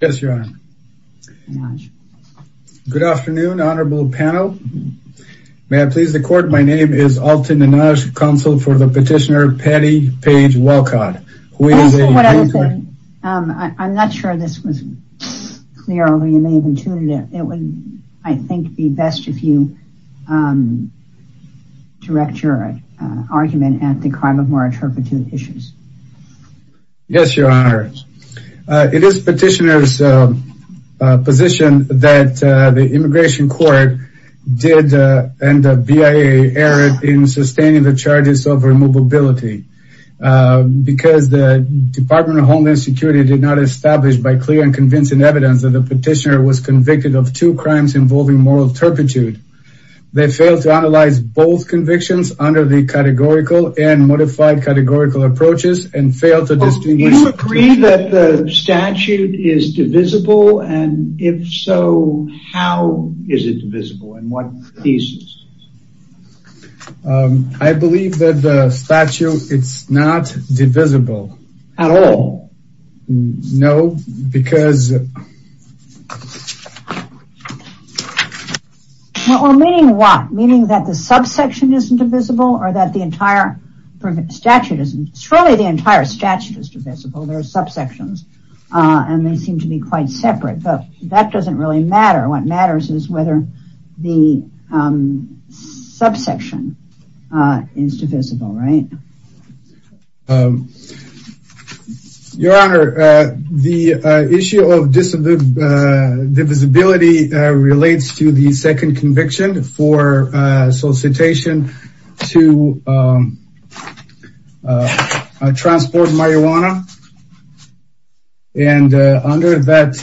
Yes your honor. Good afternoon honorable panel. May I please the court my name is Alton Nenage, counsel for the petitioner Patty Page Walcott. I'm not sure this was clear or you may have intuited it. It would I think be best if you direct your argument at the crime of moral turpitude issues. Yes your honor. It is petitioner's position that the immigration court did and the BIA erred in sustaining the charges of removability because the Department of Homeland Security did not establish by clear and convincing evidence that the petitioner was convicted of two crimes involving moral turpitude. They failed to analyze both convictions under the categorical approaches and failed to distinguish. Do you agree that the statute is divisible and if so how is it divisible and what thesis? I believe that the statute it's not divisible. At all? No because. Well meaning what? Meaning that the subsection isn't divisible or that the entire statute isn't? Surely the entire statute is divisible. There are subsections and they seem to be quite separate but that doesn't really matter. What matters is whether the subsection is divisible right? Your honor the issue of divisibility relates to the second conviction for solicitation to transport marijuana and under that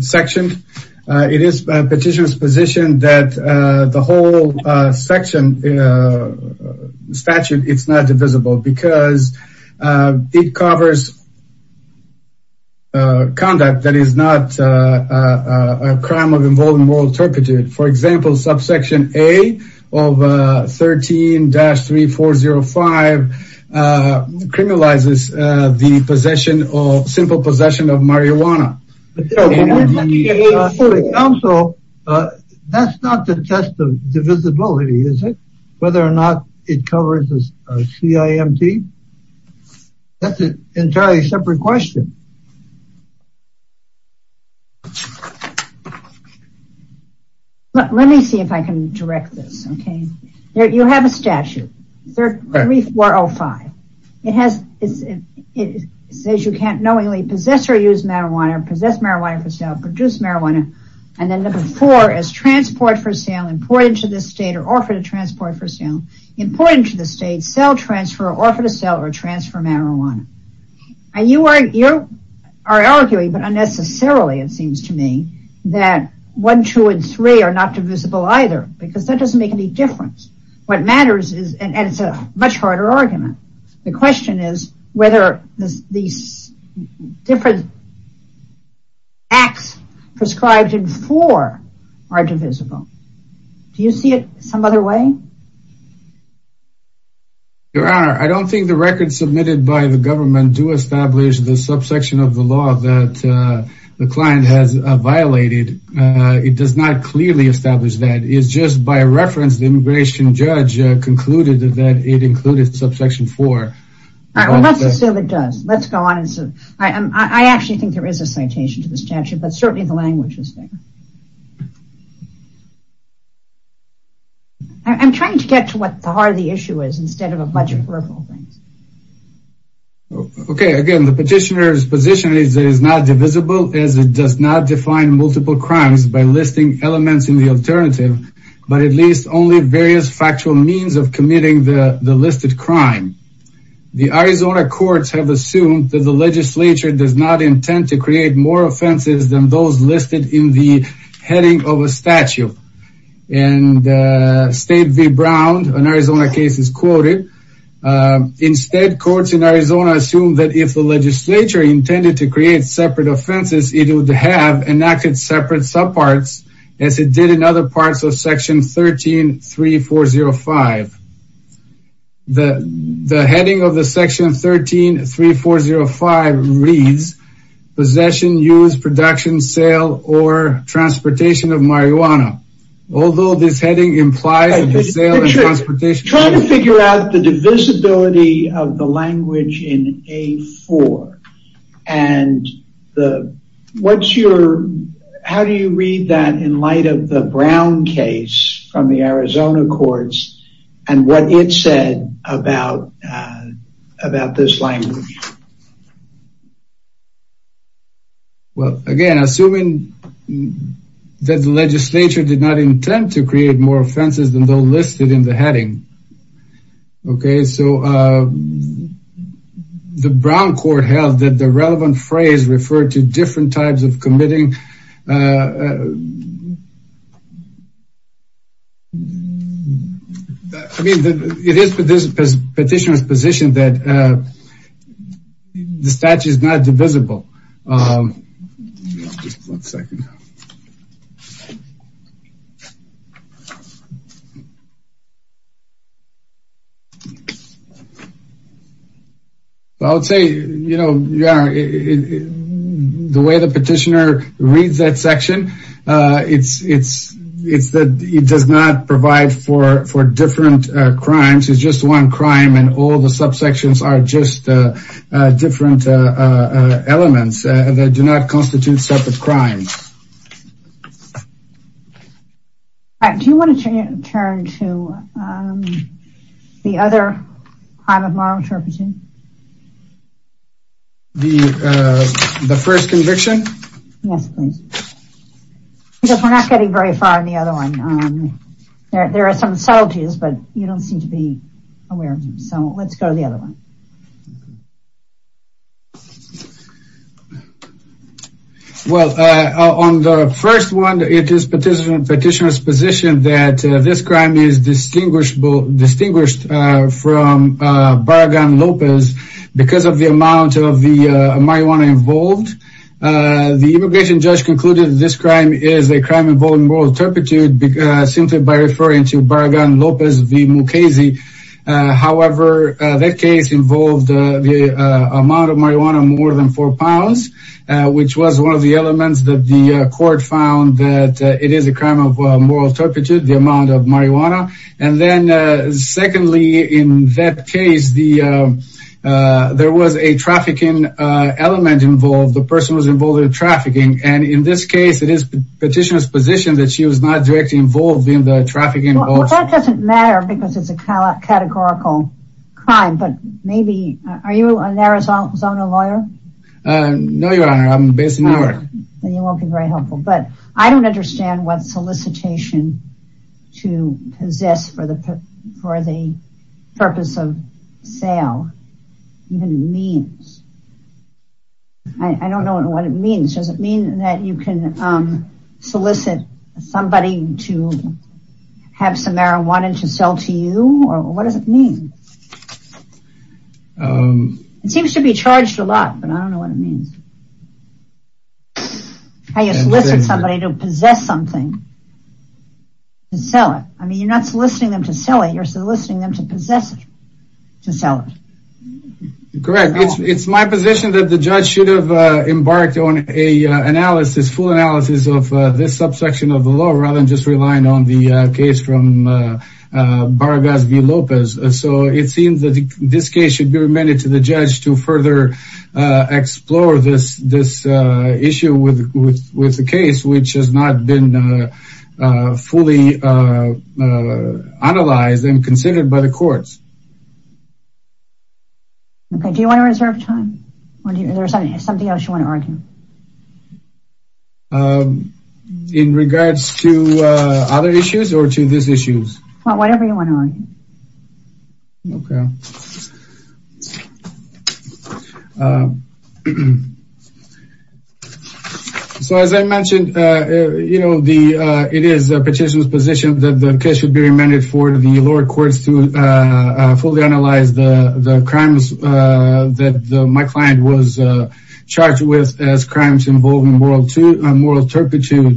section it is petitioner's position that the whole section statute it's not divisible because it covers conduct that is not a crime of involving moral turpitude. For example subsection A of 13-3405 criminalizes the possession of simple possession of marijuana. Also that's not the test of divisibility is it? Whether or not it covers a CIMT? That's an entirely separate question. Let me see if I can direct this okay. You have a statute 3405. It says you can't knowingly possess or use marijuana, possess marijuana for sale, produce marijuana and then number four is transport for sale, import into the state or offer to transport for sale, import into the state, sell, transfer, offer to sell or transfer marijuana and you are you're you're you're are arguing but unnecessarily it seems to me that one two and three are not divisible either because that doesn't make any difference. What matters is and it's a much harder argument. The question is whether these different acts prescribed in four are divisible. Do you see it some other way? There are. I don't think the records submitted by the government do establish the subsection of the law that the client has violated. It does not clearly establish that. It's just by reference the immigration judge concluded that it included subsection four. All right let's assume it does. Let's go on and so I am I actually think there is a citation to the statute but certainly the I'm trying to get to what the heart of the issue is instead of a bunch of peripheral things. Okay again the petitioner's position is it is not divisible as it does not define multiple crimes by listing elements in the alternative but at least only various factual means of committing the the listed crime. The Arizona courts have assumed that the legislature does not intend to create more offenses than those listed in the heading of a statute and State v. Brown an Arizona case is quoted. Instead courts in Arizona assume that if the legislature intended to create separate offenses it would have enacted separate subparts as it did in other parts of section 13 3405. The heading of the section 13 3405 reads possession, use, production, sale, or transportation of marijuana. Although this heading implies the sale and transportation. Trying to figure out the divisibility of the language in A4 and the what's your how do you read that in light of the Brown case from the Arizona courts and what it said about about this language. Well again assuming that the legislature did not intend to create more offenses than those listed in the heading. Okay so uh the Brown court held that the relevant phrase referred to different types of committing. I mean it is for this petitioner's position that the statute is not divisible. Um one second. I would say you know yeah the way the petitioner reads that section uh it's it's it's that it does not provide for for different uh crimes. It's just one crime and all the subsections are just uh uh different uh uh elements that do not constitute separate crimes. Do you want to turn to um the other crime of moral interpreting? The uh the first conviction? Yes please because we're not getting very far in the other one. There are some subtleties but you don't seem to be aware of them so let's go to the other one. Okay. Well uh on the first one it is petitioner's position that this crime is distinguishable distinguished uh from uh Barragan Lopez because of the amount of the marijuana involved. The immigration judge concluded this crime is a crime involving moral turpitude because simply by the amount of marijuana more than four pounds which was one of the elements that the court found that it is a crime of moral turpitude the amount of marijuana and then secondly in that case the uh there was a trafficking uh element involved the person was involved in trafficking and in this case it is petitioner's position that she was not directly involved in the trafficking. That doesn't matter because it's a categorical crime but maybe are you an Arizona lawyer? No your honor I'm based in New York. You won't be very helpful but I don't understand what solicitation to possess for the for the purpose of sale even means. I don't know what it means does it mean that you can um solicit somebody to have some marijuana to sell to you or what does it mean? Um it seems to be charged a lot but I don't know what it means. How you solicit somebody to possess something to sell it I mean you're not soliciting them to sell it you're soliciting them to possess it to sell it. Correct it's my position that judge should have embarked on a analysis full analysis of this subsection of the law rather than just relying on the case from Baragas v. Lopez so it seems that this case should be remitted to the judge to further explore this this issue with with the case which has not been fully analyzed and considered by the courts. Okay do you want to reserve time or do you there's something else you want to argue? Um in regards to uh other issues or to this issues? Well whatever you want to argue. Okay so as I mentioned uh you know the uh it is a petitioner's position that the case should be uh uh fully analyzed the the crimes uh that my client was uh charged with as crimes involving world to a moral turpitude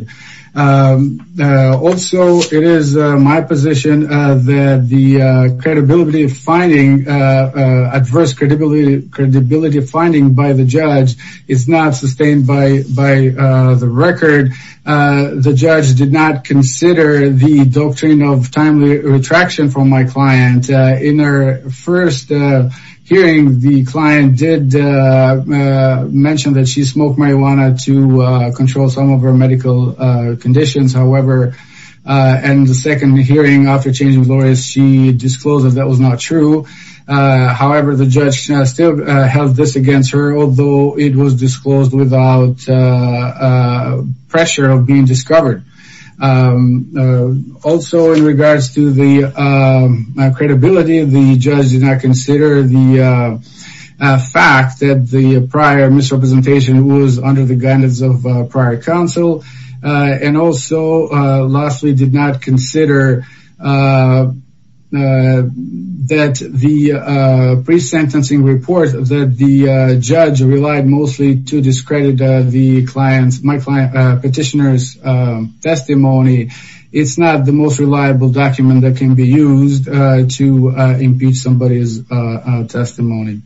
um uh also it is my position uh that the uh credibility of finding uh uh adverse credibility credibility of finding by the judge is not sustained by by uh the record uh the judge did not consider the doctrine of timely retraction from my client in her first hearing the client did mention that she smoked marijuana to control some of her medical conditions however uh and the second hearing after changing lawyers she disclosed that that was not true uh however the judge still held this against her although it was disclosed without uh pressure of being discovered um also in regards to the um credibility the judge did not consider the uh fact that the prior misrepresentation was under the guidance of prior counsel uh and also uh lastly did not consider uh that the uh pre-sentencing report that the judge relied mostly to discredit the client's my client petitioner's testimony it's not the most reliable document that can be used to impeach somebody's testimony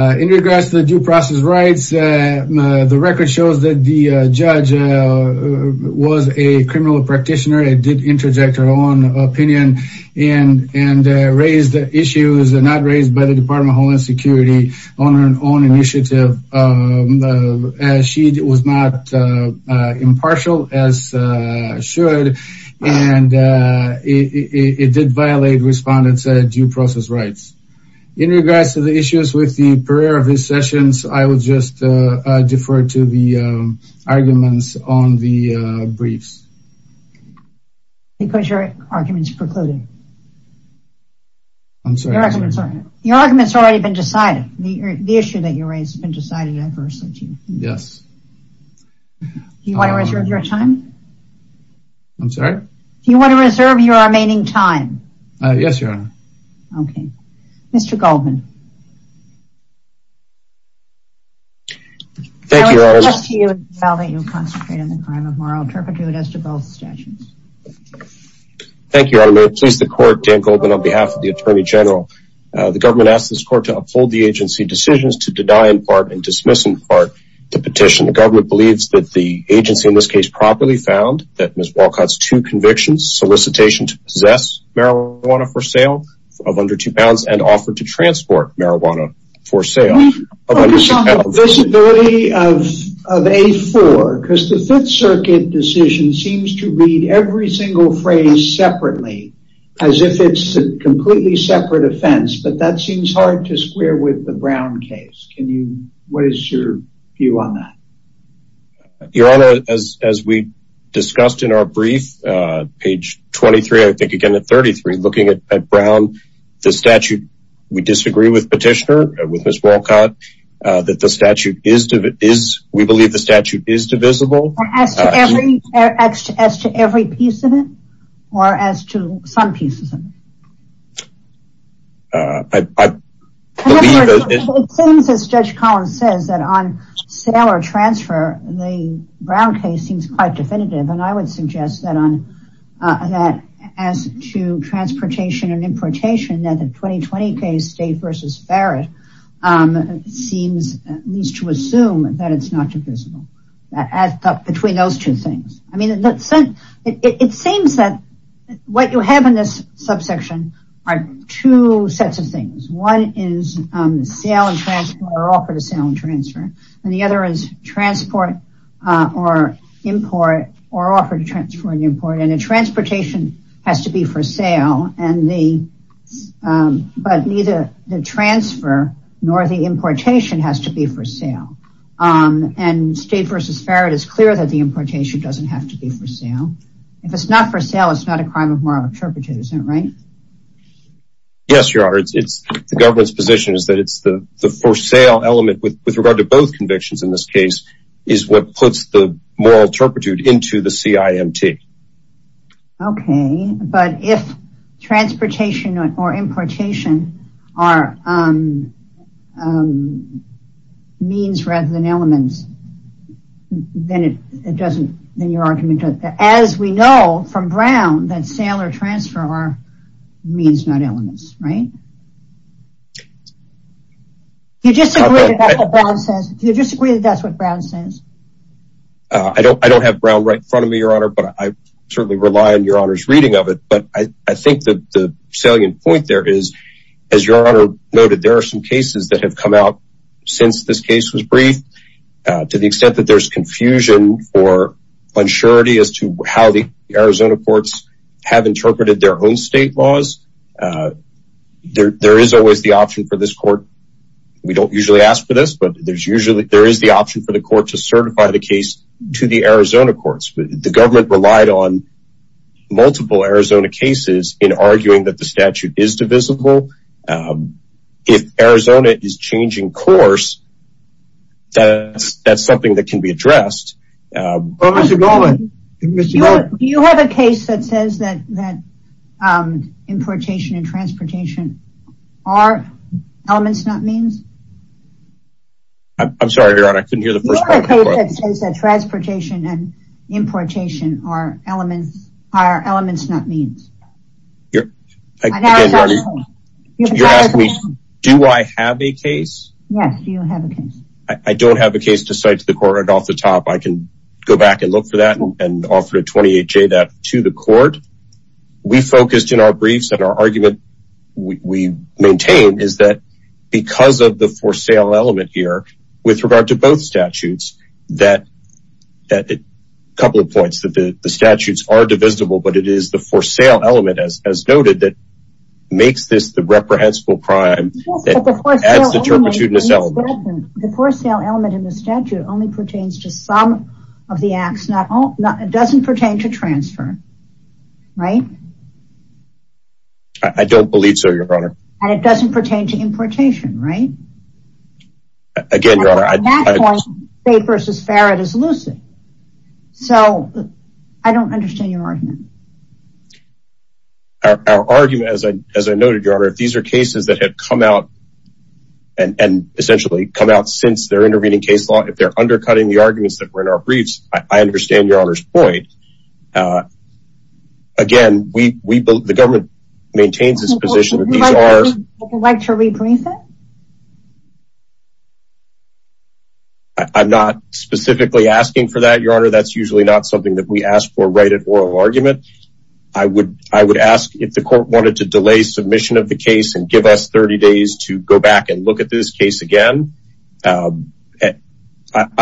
in regards to the due process rights the record shows that the judge was a criminal practitioner it did interject her own opinion and and raised the issues not raised by the department of homeland security on her own initiative as she was not impartial as uh should and uh it did violate respondents due process rights in regards to the issues with the prayer of his sessions i will just uh defer to the um arguments on the uh briefs because your argument is precluded i'm sorry your argument's already been decided the issue that you raised has been decided adversely to you yes do you want to reserve your time i'm sorry do you want to reserve your remaining time uh yes your honor okay mr goldman thank you all that you'll concentrate on the crime of moral turpitude as to both stations thank you i may please the court dan goldman on behalf of the attorney general the government asked this court to uphold the agency decisions to deny in part and dismiss in part the petition the government believes that the agency in this case properly found that two convictions solicitation to possess marijuana for sale of under two pounds and offered to transport marijuana for sale visibility of of a4 because the fifth circuit decision seems to read every single phrase separately as if it's a completely separate offense but that seems hard to square with the brown case can you what is your view on that your honor as as we discussed in our brief uh page 23 i think again at 33 looking at brown the statute we disagree with petitioner with miss walcott uh that the statute is is we believe the statute is divisible as to every as to every piece of it or as to some pieces of it uh i i believe it seems as judge on that as to transportation and importation that the 2020 case state versus ferret um seems needs to assume that it's not divisible as between those two things i mean in that sense it seems that what you have in this subsection are two sets of things one is um sale and transport or offer and transfer and the other is transport uh or import or offer to transfer and import and transportation has to be for sale and the um but neither the transfer nor the importation has to be for sale um and state versus ferret is clear that the importation doesn't have to be for sale if it's not for sale it's not a crime of moral interpretive isn't it right yes your honor it's the government's position is that it's the the for sale element with with regard to both convictions in this case is what puts the moral turpitude into the cimt okay but if transportation or importation are um um means rather than elements then it doesn't then your argument as we know from brown that sale or transfer are means not elements right do you disagree with what brown says do you disagree that that's what brown says uh i don't i don't have brown right in front of me your honor but i certainly rely on your honor's reading of it but i i think that the salient point there is as your honor noted there are some cases that have come out since this case was brief uh to the extent that there's confusion or unsurety as to how the arizona courts have interpreted their own state laws there there is always the option for this court we don't usually ask for this but there's usually there is the option for the court to certify the case to the arizona courts the government relied on multiple arizona cases in arguing that the statute is divisible um if arizona is changing course that's that's something that can be addressed uh you have a case that says that that um importation and transportation are elements not means i'm sorry your honor i elements are elements not means you're you're asking me do i have a case yes you have a case i don't have a case to cite to the court right off the top i can go back and look for that and offer a 28j that to the court we focused in our briefs and our argument we maintain is that because of the for sale element here with regard to both statutes that that a couple of points that the statutes are divisible but it is the for sale element as as noted that makes this the reprehensible crime that adds the turpitude in this element the for sale element in the statute only pertains to some of the acts not all not it doesn't pertain to transfer right i don't believe so your honor and it doesn't pertain to importation right again your honor papers as fair it is lucid so i don't understand your argument our argument as i as i noted your honor if these are cases that have come out and and essentially come out since they're intervening case law if they're undercutting the arguments that were in our briefs i understand your honor's point uh again we i'm not specifically asking for that your honor that's usually not something that we ask for right at oral argument i would i would ask if the court wanted to delay submission of the case and give us 30 days to go back and look at this case again i'm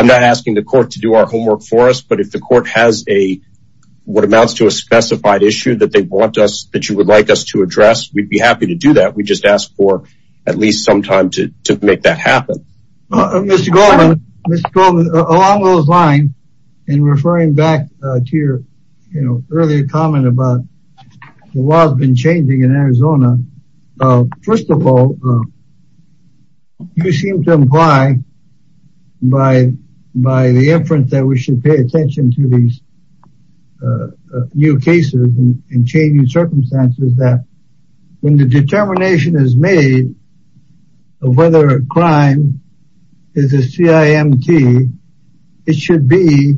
not asking the court to do our homework for us but if the court has a what amounts to a specified issue that they want us that you would like us to address we'd be happy to do that we just ask for at least some time to to make that happen well mr goldman along those lines and referring back to your you know earlier comment about the law has been changing in arizona first of all you seem to imply by by the inference that we should pay attention to these new cases and changing circumstances that when the determination is made of whether a crime is a cimt it should be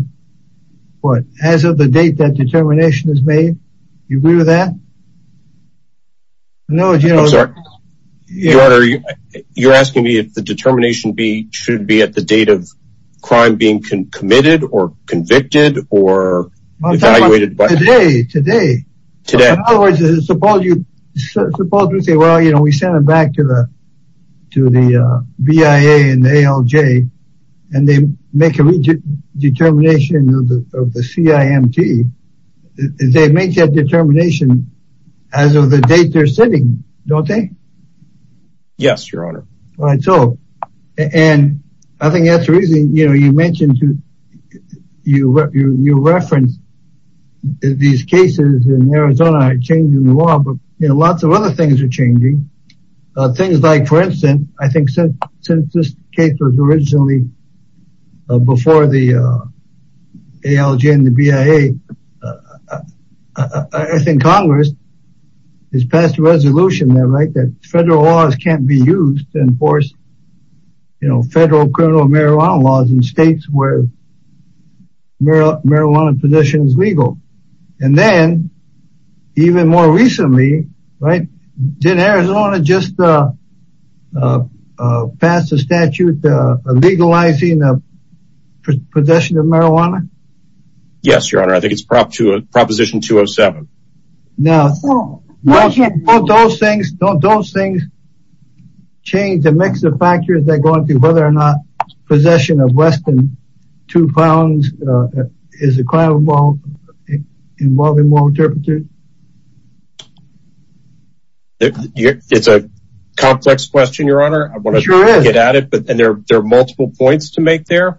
what as of the date that determination is made you agree with that no i'm sorry your honor you're asking me if the determination be should be at the date of crime being committed or convicted or evaluated by today today today suppose you suppose we say well you know we send them back to the to the bia and alj and they make a determination of the cimt they make that determination as of the date they're sitting don't they yes your honor all right so and i think that's the reason you know you mentioned you you you referenced these cases in arizona changing the law but you know lots of other things are changing uh things like for instance i think since since this case was originally before the uh alj and the bia i think congress has passed a resolution there right that federal can't be used to enforce you know federal criminal marijuana laws in states where marijuana possession is legal and then even more recently right then arizona just uh passed a statute uh legalizing the possession of marijuana yes your honor i think it's prop to change the mix of factors that go into whether or not possession of less than two pounds is a crime involving more interpreters it's a complex question your honor i want to get at it but and there are multiple points to make there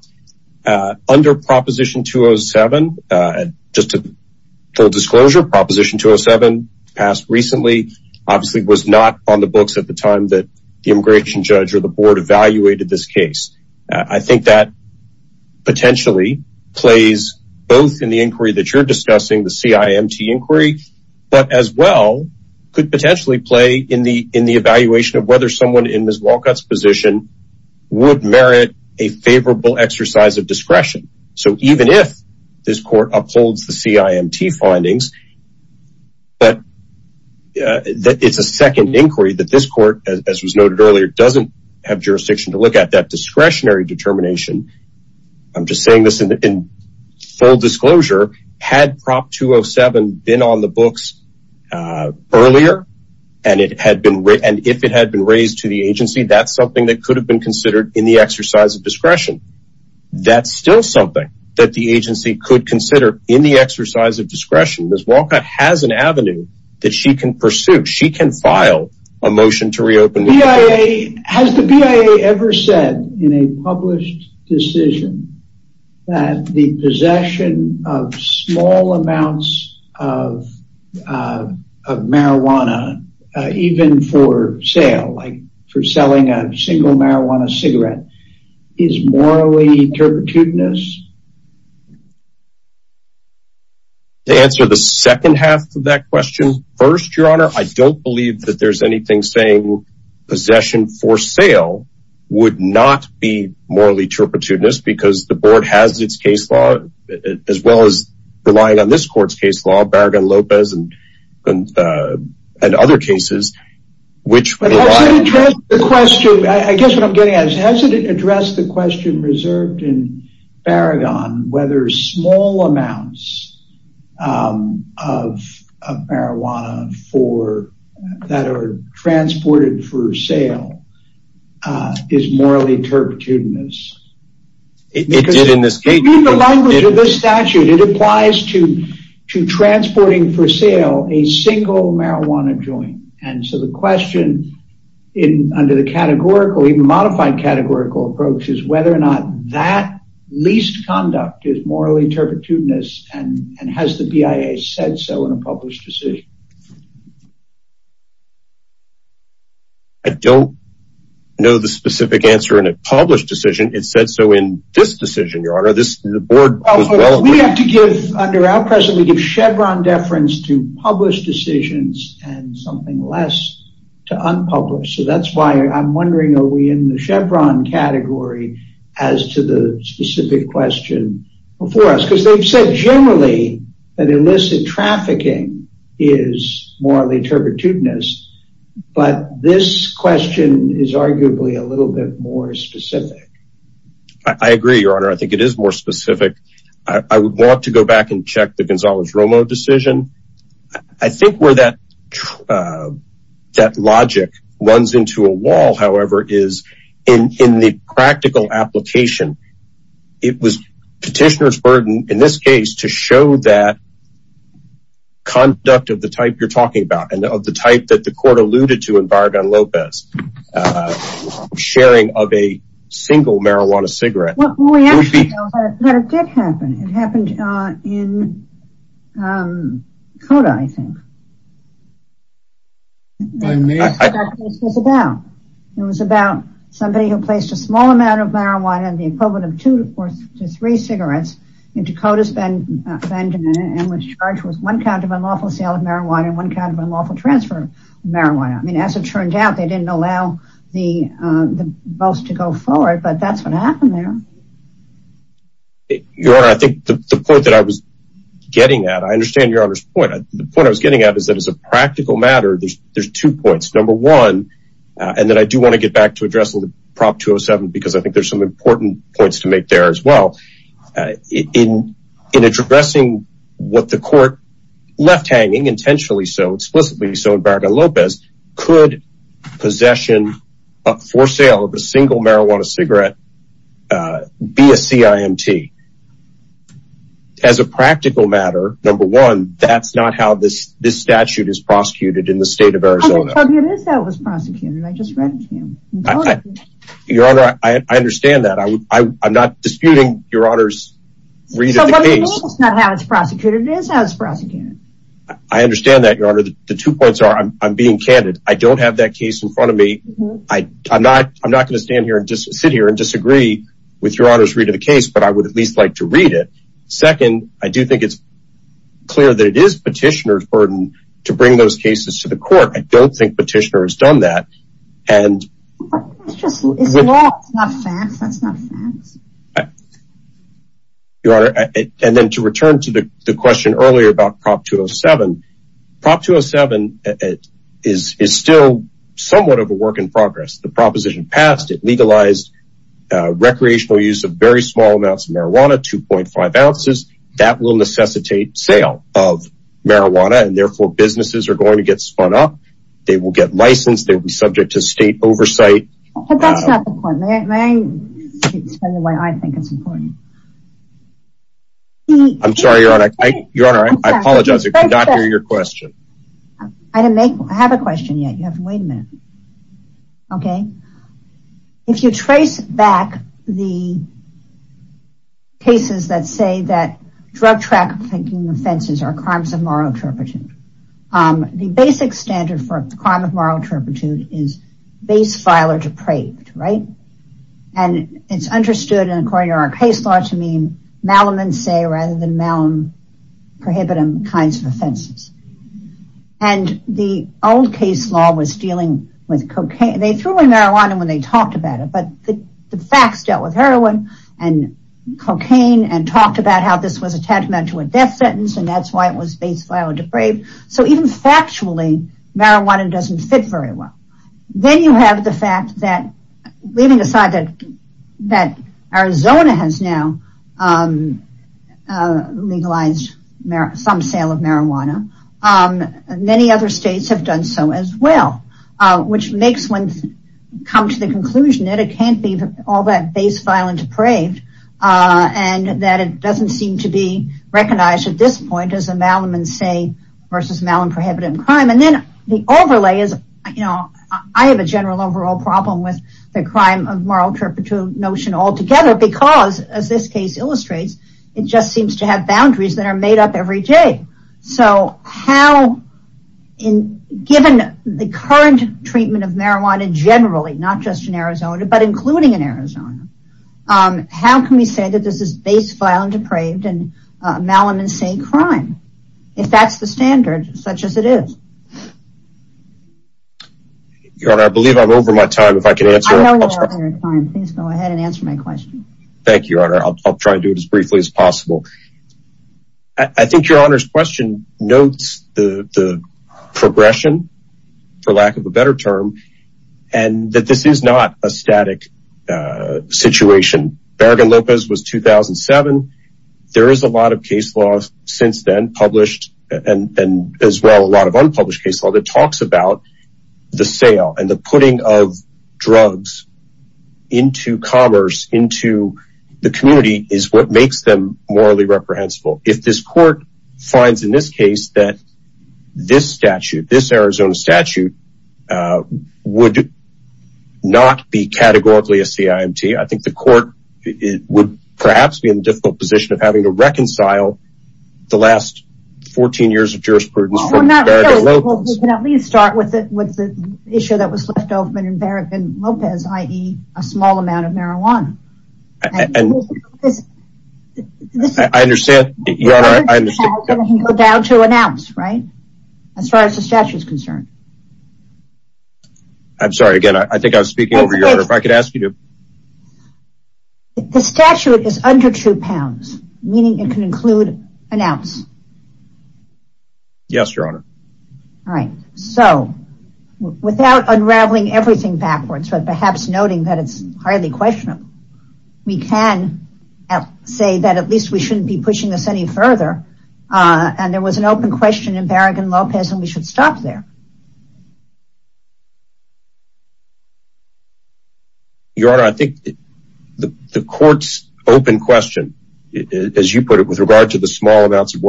uh under proposition 207 uh just to full disclosure proposition 207 passed recently obviously was not on the books at the time that the immigration judge or the board evaluated this case i think that potentially plays both in the inquiry that you're discussing the cimt inquiry but as well could potentially play in the in the evaluation of whether someone in miss walcott's position would merit a favorable exercise of discretion so even if this court upholds the cimt findings but that it's a second inquiry that this court as was noted earlier doesn't have jurisdiction to look at that discretionary determination i'm just saying this in full disclosure had prop 207 been on the books uh earlier and it had been written if it had been raised to the agency that's something that could have been considered in the exercise of discretion that's still something that the agency could consider in the exercise of discretion miss walcott has an avenue that she can pursue she can file a motion to reopen the bia has the bia ever said in a published decision that the possession of small amounts of uh of marijuana uh even for for selling a single marijuana cigarette is morally turpitudinous to answer the second half of that question first your honor i don't believe that there's anything saying possession for sale would not be morally turpitudinous because the board has its case law as well as relying on this court's case law baraghan lopez and and uh and other cases which address the question i guess what i'm getting at is has it addressed the question reserved in baraghan whether small amounts um of of marijuana for that are transported for sale is morally turpitudinous it did in this case the language of this statute it applies to to transporting for sale a single marijuana joint and so the question in under the categorical even modified categorical approach is whether or not that least conduct is morally turpitudinous and and has the bia said so in a published decision i don't know the specific answer in a published decision it said so in this decision your honor the board we have to give under our president we give chevron deference to published decisions and something less to unpublished so that's why i'm wondering are we in the chevron category as to the specific question before us because they've said generally that illicit trafficking is morally turpitudinous but this question is arguably a little bit more specific i agree your honor i think it is more specific i would want to go back and check the gonzalez romo decision i think where that uh that logic runs into a wall however is in in the practical application it was petitioner's burden in this case to show that conduct of the type you're talking about and of the type that the court alluded to in baraghan lopez uh sharing of a single marijuana cigarette well we actually know that it did happen it happened uh in um kota i think it was about somebody who placed a small amount of marijuana the equivalent of two to four to three cigarettes in dakota's been offended and was charged with one count of unlawful sale of marijuana and one kind of unlawful transfer of marijuana i mean as it turned out they didn't allow the uh the both to go forward but that's what happened there your honor i think the point that i was getting at i understand your honor's point the point i was getting at is that as a practical matter there's two points number one and then i do want to get back to address prop 207 because i think there's some important points to make there as well in in addressing what the court left hanging intentionally so explicitly so in baraghan lopez could possession for sale of a single marijuana cigarette uh be a cimt as a practical matter number one that's not how this this statute is prosecuted in the state of arizona was prosecuted i just read it to you your honor i i understand that i i'm not disputing your read it it's not how it's prosecuted it is how it's prosecuted i understand that your honor the two points are i'm being candid i don't have that case in front of me i i'm not i'm not going to stand here and just sit here and disagree with your honor's read of the case but i would at least like to read it second i do think it's clear that it is petitioner's burden to bring those cases to the court i don't think petitioner has done that and it's just it's law it's not your honor and then to return to the the question earlier about prop 207 prop 207 is is still somewhat of a work in progress the proposition passed it legalized uh recreational use of very small amounts of marijuana 2.5 ounces that will necessitate sale of marijuana and therefore businesses are going to get spun up they will get licensed they'll be subject to state but that's not the point may i explain the way i think it's important i'm sorry your honor i your honor i apologize i cannot hear your question i didn't make i have a question yet you have to wait a minute okay if you trace back the cases that say that drug trafficking offenses are crimes of moral turpitude um the basic standard for the crime of moral turpitude is base file or depraved right and it's understood and according to our case law to mean malum and say rather than malum prohibitive kinds of offenses and the old case law was dealing with cocaine they threw in marijuana when they talked about it but the facts dealt with heroin and cocaine and talked about how this was meant to a death sentence and that's why it was based on depraved so even factually marijuana doesn't fit very well then you have the fact that leaving aside that that arizona has now legalized some sale of marijuana um many other states have done so as well which makes one come to the conclusion that it can't be all that base violent depraved uh and that it doesn't seem to be recognized at this point as a malum and say versus malum prohibited crime and then the overlay is you know i have a general overall problem with the crime of moral turpitude notion altogether because as this case illustrates it just seems to have boundaries that are made up every day so how in given the current treatment of marijuana generally not just in arizona but malum and say crime if that's the standard such as it is your honor i believe i'm over my time if i can answer please go ahead and answer my question thank you your honor i'll try and do it as briefly as possible i think your honor's question notes the the progression for lack of a better term and that this is not a static uh situation bergen lopez was 2007 there is a lot of case law since then published and and as well a lot of unpublished case law that talks about the sale and the putting of drugs into commerce into the community is what makes them morally reprehensible if this court finds in this case that this statute this arizona statute would not be categorically a cimt i think the court it would perhaps be in the difficult position of having to reconcile the last 14 years of jurisprudence we can at least start with it with the issue that was left open in bergen lopez i.e. a small amount of marijuana and i understand you go down to an ounce right as far as the statute is concerned i'm sorry again i think i was speaking over your honor if i could ask you to the statute is under two pounds meaning it can include an ounce yes your honor all right so without unraveling everything backwards but perhaps noting that it's highly questionable we can say that at least we shouldn't be pushing this any further and there was an open question in bergen lopez and we should stop there your honor i think the court's open question as you put it with regard to the small amounts of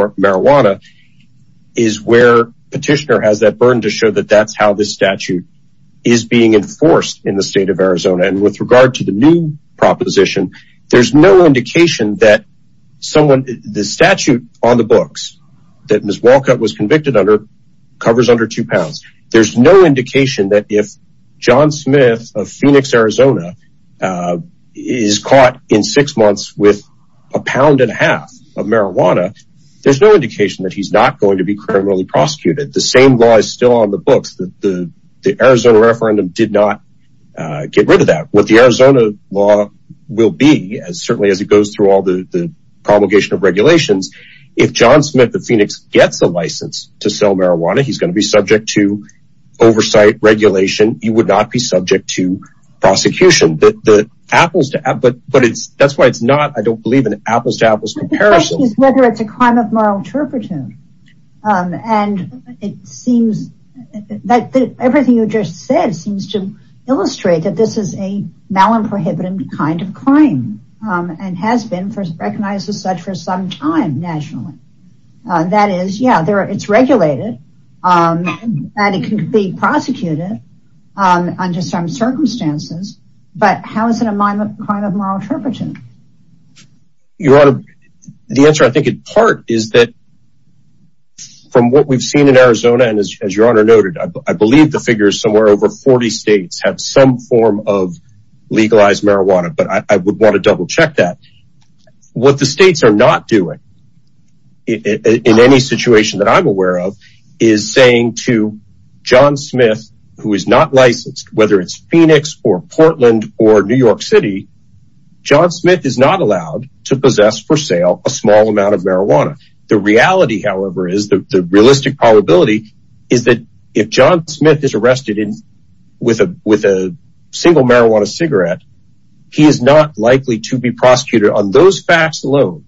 that's how this statute is being enforced in the state of arizona and with regard to the new proposition there's no indication that someone the statute on the books that ms walcott was convicted under covers under two pounds there's no indication that if john smith of phoenix arizona is caught in six months with a pound and a half of marijuana there's no indication that he's not to be criminally prosecuted the same law is still on the books that the the arizona referendum did not uh get rid of that what the arizona law will be as certainly as it goes through all the the promulgation of regulations if john smith the phoenix gets a license to sell marijuana he's going to be subject to oversight regulation you would not be subject to prosecution that the apples to apple but but it's that's why it's not i don't believe in apples to apples comparison whether it's a crime of moral turpitude um and it seems that everything you just said seems to illustrate that this is a mal and prohibitive kind of crime um and has been first recognized as such for some time nationally uh that is yeah there it's regulated um and it can be prosecuted um under some circumstances but how is it a minor crime of moral turpitude your honor the answer i think in part is that from what we've seen in arizona and as your honor noted i believe the figure is somewhere over 40 states have some form of legalized marijuana but i would want to double check that what the states are not doing in any situation that i'm aware of is saying to john smith who is not licensed whether it's phoenix or portland or new york city john smith is not allowed to possess for sale a small amount of marijuana the reality however is the realistic probability is that if john smith is arrested in with a with a single marijuana cigarette he is not likely to be prosecuted on those facts alone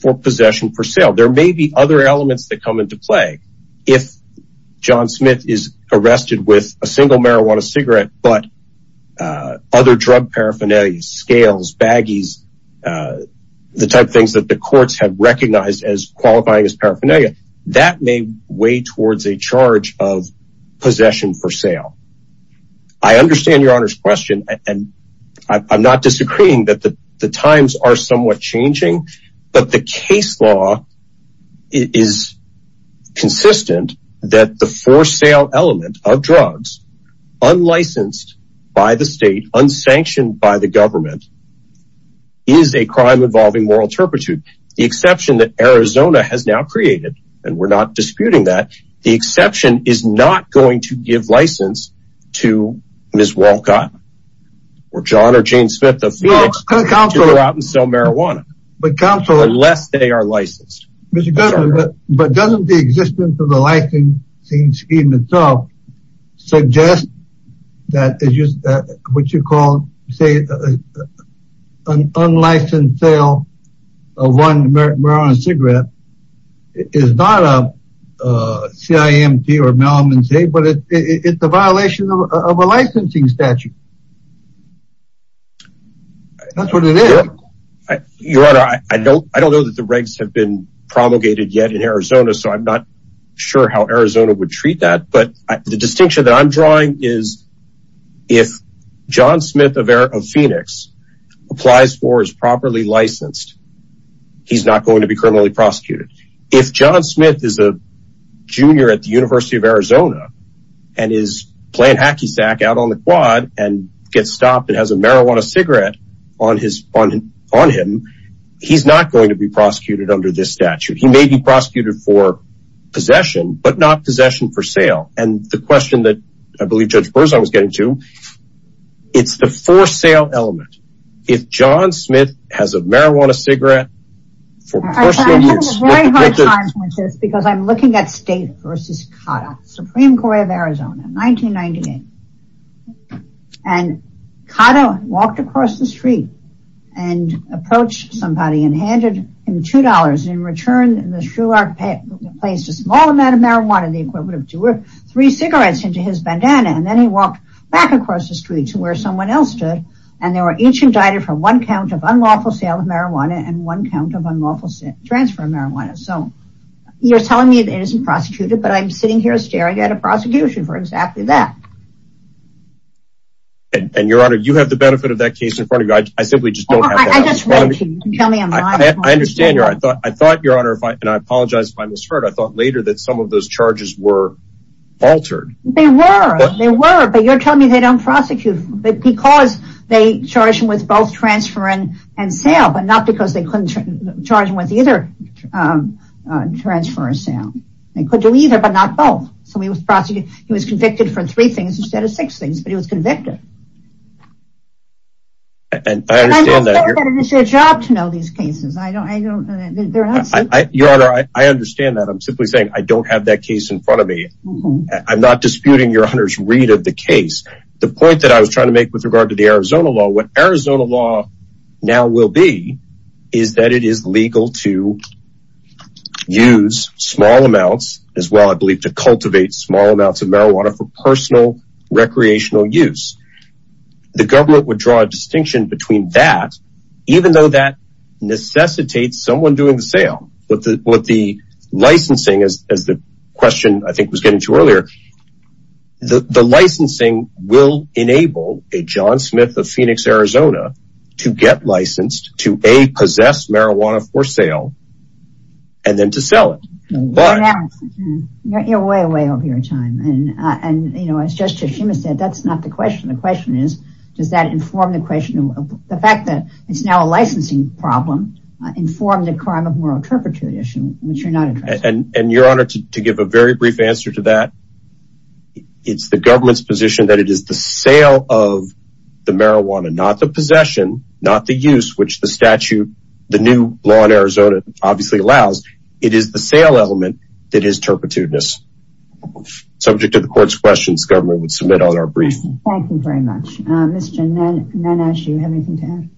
for possession for sale there may be other elements that come into play if john smith is arrested with a single marijuana cigarette but uh other drug paraphernalia scales baggies uh the type things that the courts have recognized as qualifying as paraphernalia that may weigh towards a charge of possession for sale i understand your honor's question and i'm not disagreeing that the the times are somewhat but the case law is consistent that the for sale element of drugs unlicensed by the state unsanctioned by the government is a crime involving moral turpitude the exception that arizona has now created and we're not disputing that the exception is not going to give license to ms walcott or john or jane smith of phoenix to go out and sell marijuana but council unless they are licensed but doesn't the existence of the licensing scheme itself suggest that is just that what you call say an unlicensed sale of one marijuana cigarette is not a cimt or melman say but it's a violation of a licensing statute that's what it is your honor i don't i don't know that the regs have been promulgated yet in arizona so i'm not sure how arizona would treat that but the distinction that i'm drawing is if john smith of phoenix applies for is properly licensed he's not going be criminally prosecuted if john smith is a junior at the university of arizona and is playing hacky sack out on the quad and gets stopped and has a marijuana cigarette on his on on him he's not going to be prosecuted under this statute he may be prosecuted for possession but not possession for sale and the question that i believe judge berzon was getting to it's the for sale element if john smith has a marijuana cigarette because i'm looking at state versus kata supreme court of arizona 1998 and kata walked across the street and approached somebody and handed him two dollars in return the shulak placed a small amount of marijuana the equivalent of two or three cigarettes into his bandana and then he walked back across the street to where someone else stood and they were each indicted for one count of unlawful sale of marijuana and one count of unlawful transfer of marijuana so you're telling me that isn't prosecuted but i'm sitting here staring at a prosecution for exactly that and your honor you have the benefit of that case in front of you i simply just don't have to tell me i understand your i thought i thought your honor if i and i apologize if i misheard i thought later that some of those charges were altered they were they were but you're telling me they don't prosecute but because they charge him with both transfer and and sale but not because they couldn't charge him with either um transfer or sale they could do either but not both so he was prosecuted he was convicted for three things instead of six things but he was convicted and i understand that it's your job to know these cases i don't i don't know they're not i your honor i i understand that i'm simply saying i don't have that case in front of me i'm not disputing your honor's read of the case the point that i was trying to make with regard to the arizona law what arizona law now will be is that it is legal to use small amounts as well i believe to cultivate small amounts of marijuana for personal recreational use the government would draw a distinction between that even though that question i think was getting to earlier the the licensing will enable a john smith of phoenix arizona to get licensed to a possess marijuana for sale and then to sell it but you're way way over your time and uh and you know as justice schumer said that's not the question the question is does that inform the question of the fact that it's now a licensing problem inform the crime of which you're not interested and and your honor to give a very brief answer to that it's the government's position that it is the sale of the marijuana not the possession not the use which the statute the new law in arizona obviously allows it is the sale element that is turpitudinous subject to the court's questions government would submit on our brief thank you very much uh mr nenas you have anything to add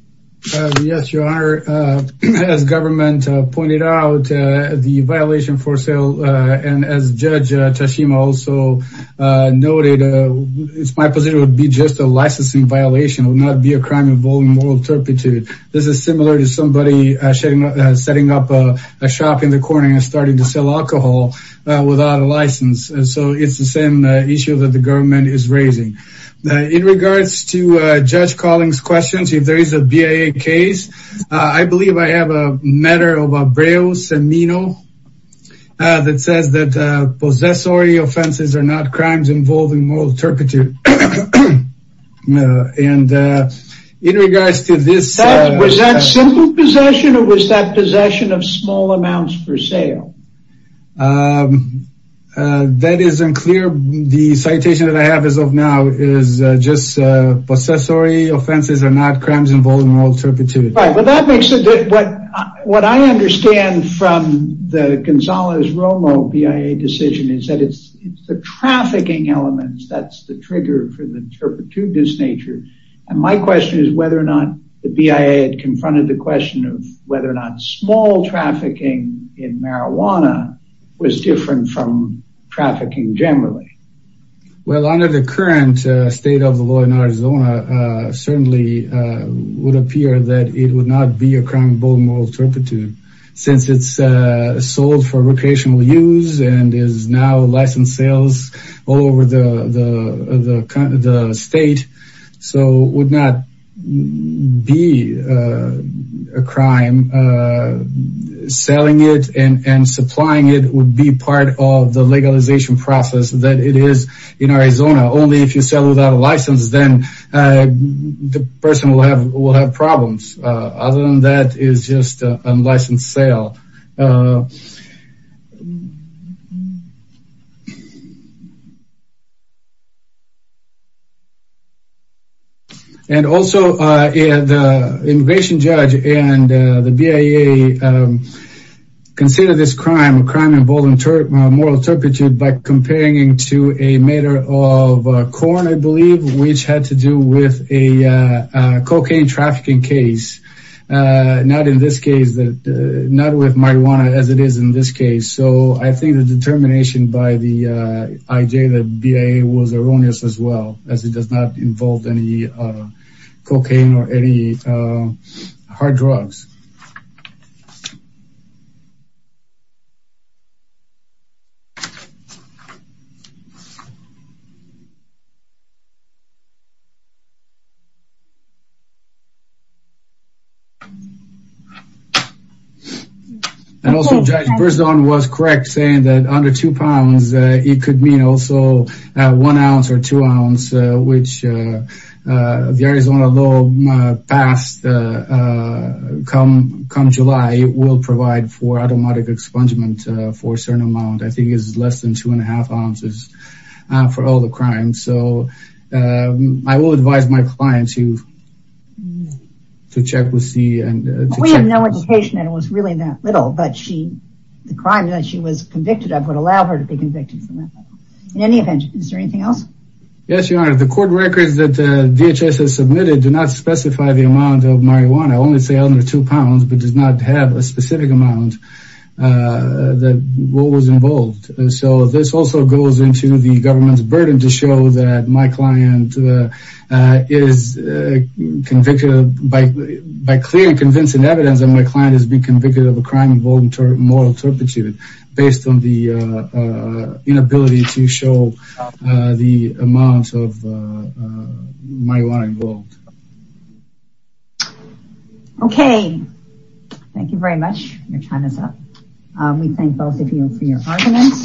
yes your honor uh as government pointed out uh the violation for sale uh and as judge uh tashima also uh noted uh it's my position would be just a licensing violation would not be a crime involving moral turpitude this is similar to somebody setting up a shop in the corner and starting to sell alcohol without a license and so it's the same issue that the government is raising in regards to uh judge calling's questions if there is a bia case i believe i have a matter of a braille semino that says that uh possessory offenses are not crimes involving moral turpitude and uh in regards to this was that simple possession or was that possession of small amounts for sale um uh that is unclear the citation that i have is of now is just uh possessory offenses are not crimes involving moral turpitude right but that makes it what what i understand from the gonzalez romo bia decision is that it's it's the trafficking elements that's the trigger for the turpitude this nature and my question is whether or not the bia had confronted the question of whether or not small trafficking in marijuana was different from trafficking generally well under the current state of the law in arizona uh certainly uh would appear that it would not be a crime involving moral turpitude since it's uh sold for recreational use and is now licensed sales all over the the the state so would not be a crime uh selling it and and supplying it would be part of the legalization process that it is in arizona only if you sell without a license then uh the person will have will have problems uh other than that is just an unlicensed sale and also uh the immigration judge and the bia consider this crime a crime involving moral turpitude by comparing it to a matter of corn i believe which had to do with a cocaine trafficking case uh not in this case that not with marijuana as it is in this case so i think the determination by the uh the bia was erroneous as well as it does not involve any uh cocaine or any uh hard drugs so and also judge berzon was correct saying that under two pounds it could mean also one ounce or two ounce which uh the arizona law passed uh come come july it will provide for automatic expungement for a certain amount i think it's less than two and a half ounces for all the crimes so i will advise my clients you to check with c and we have no education and it was really that little but she the crime that she was convicted of would allow her to be convicted in any event is there anything else yes your honor the court records that uh dhs has submitted do not specify the amount of marijuana only say under two pounds but does not have a specific amount uh that what was involved so this also goes into the government's burden to show that my client is convicted by by clear and convincing evidence that my client has been convicted of a crime moral turpitude based on the uh inability to show uh the amounts of uh marijuana involved okay thank you very much your time is up um we thank both of you for your arguments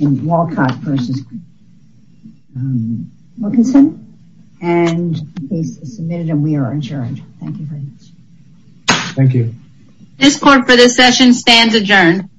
in walcott versus um wilkinson and he submitted and we are adjourned thank you very much thank you this court for this session stands adjourned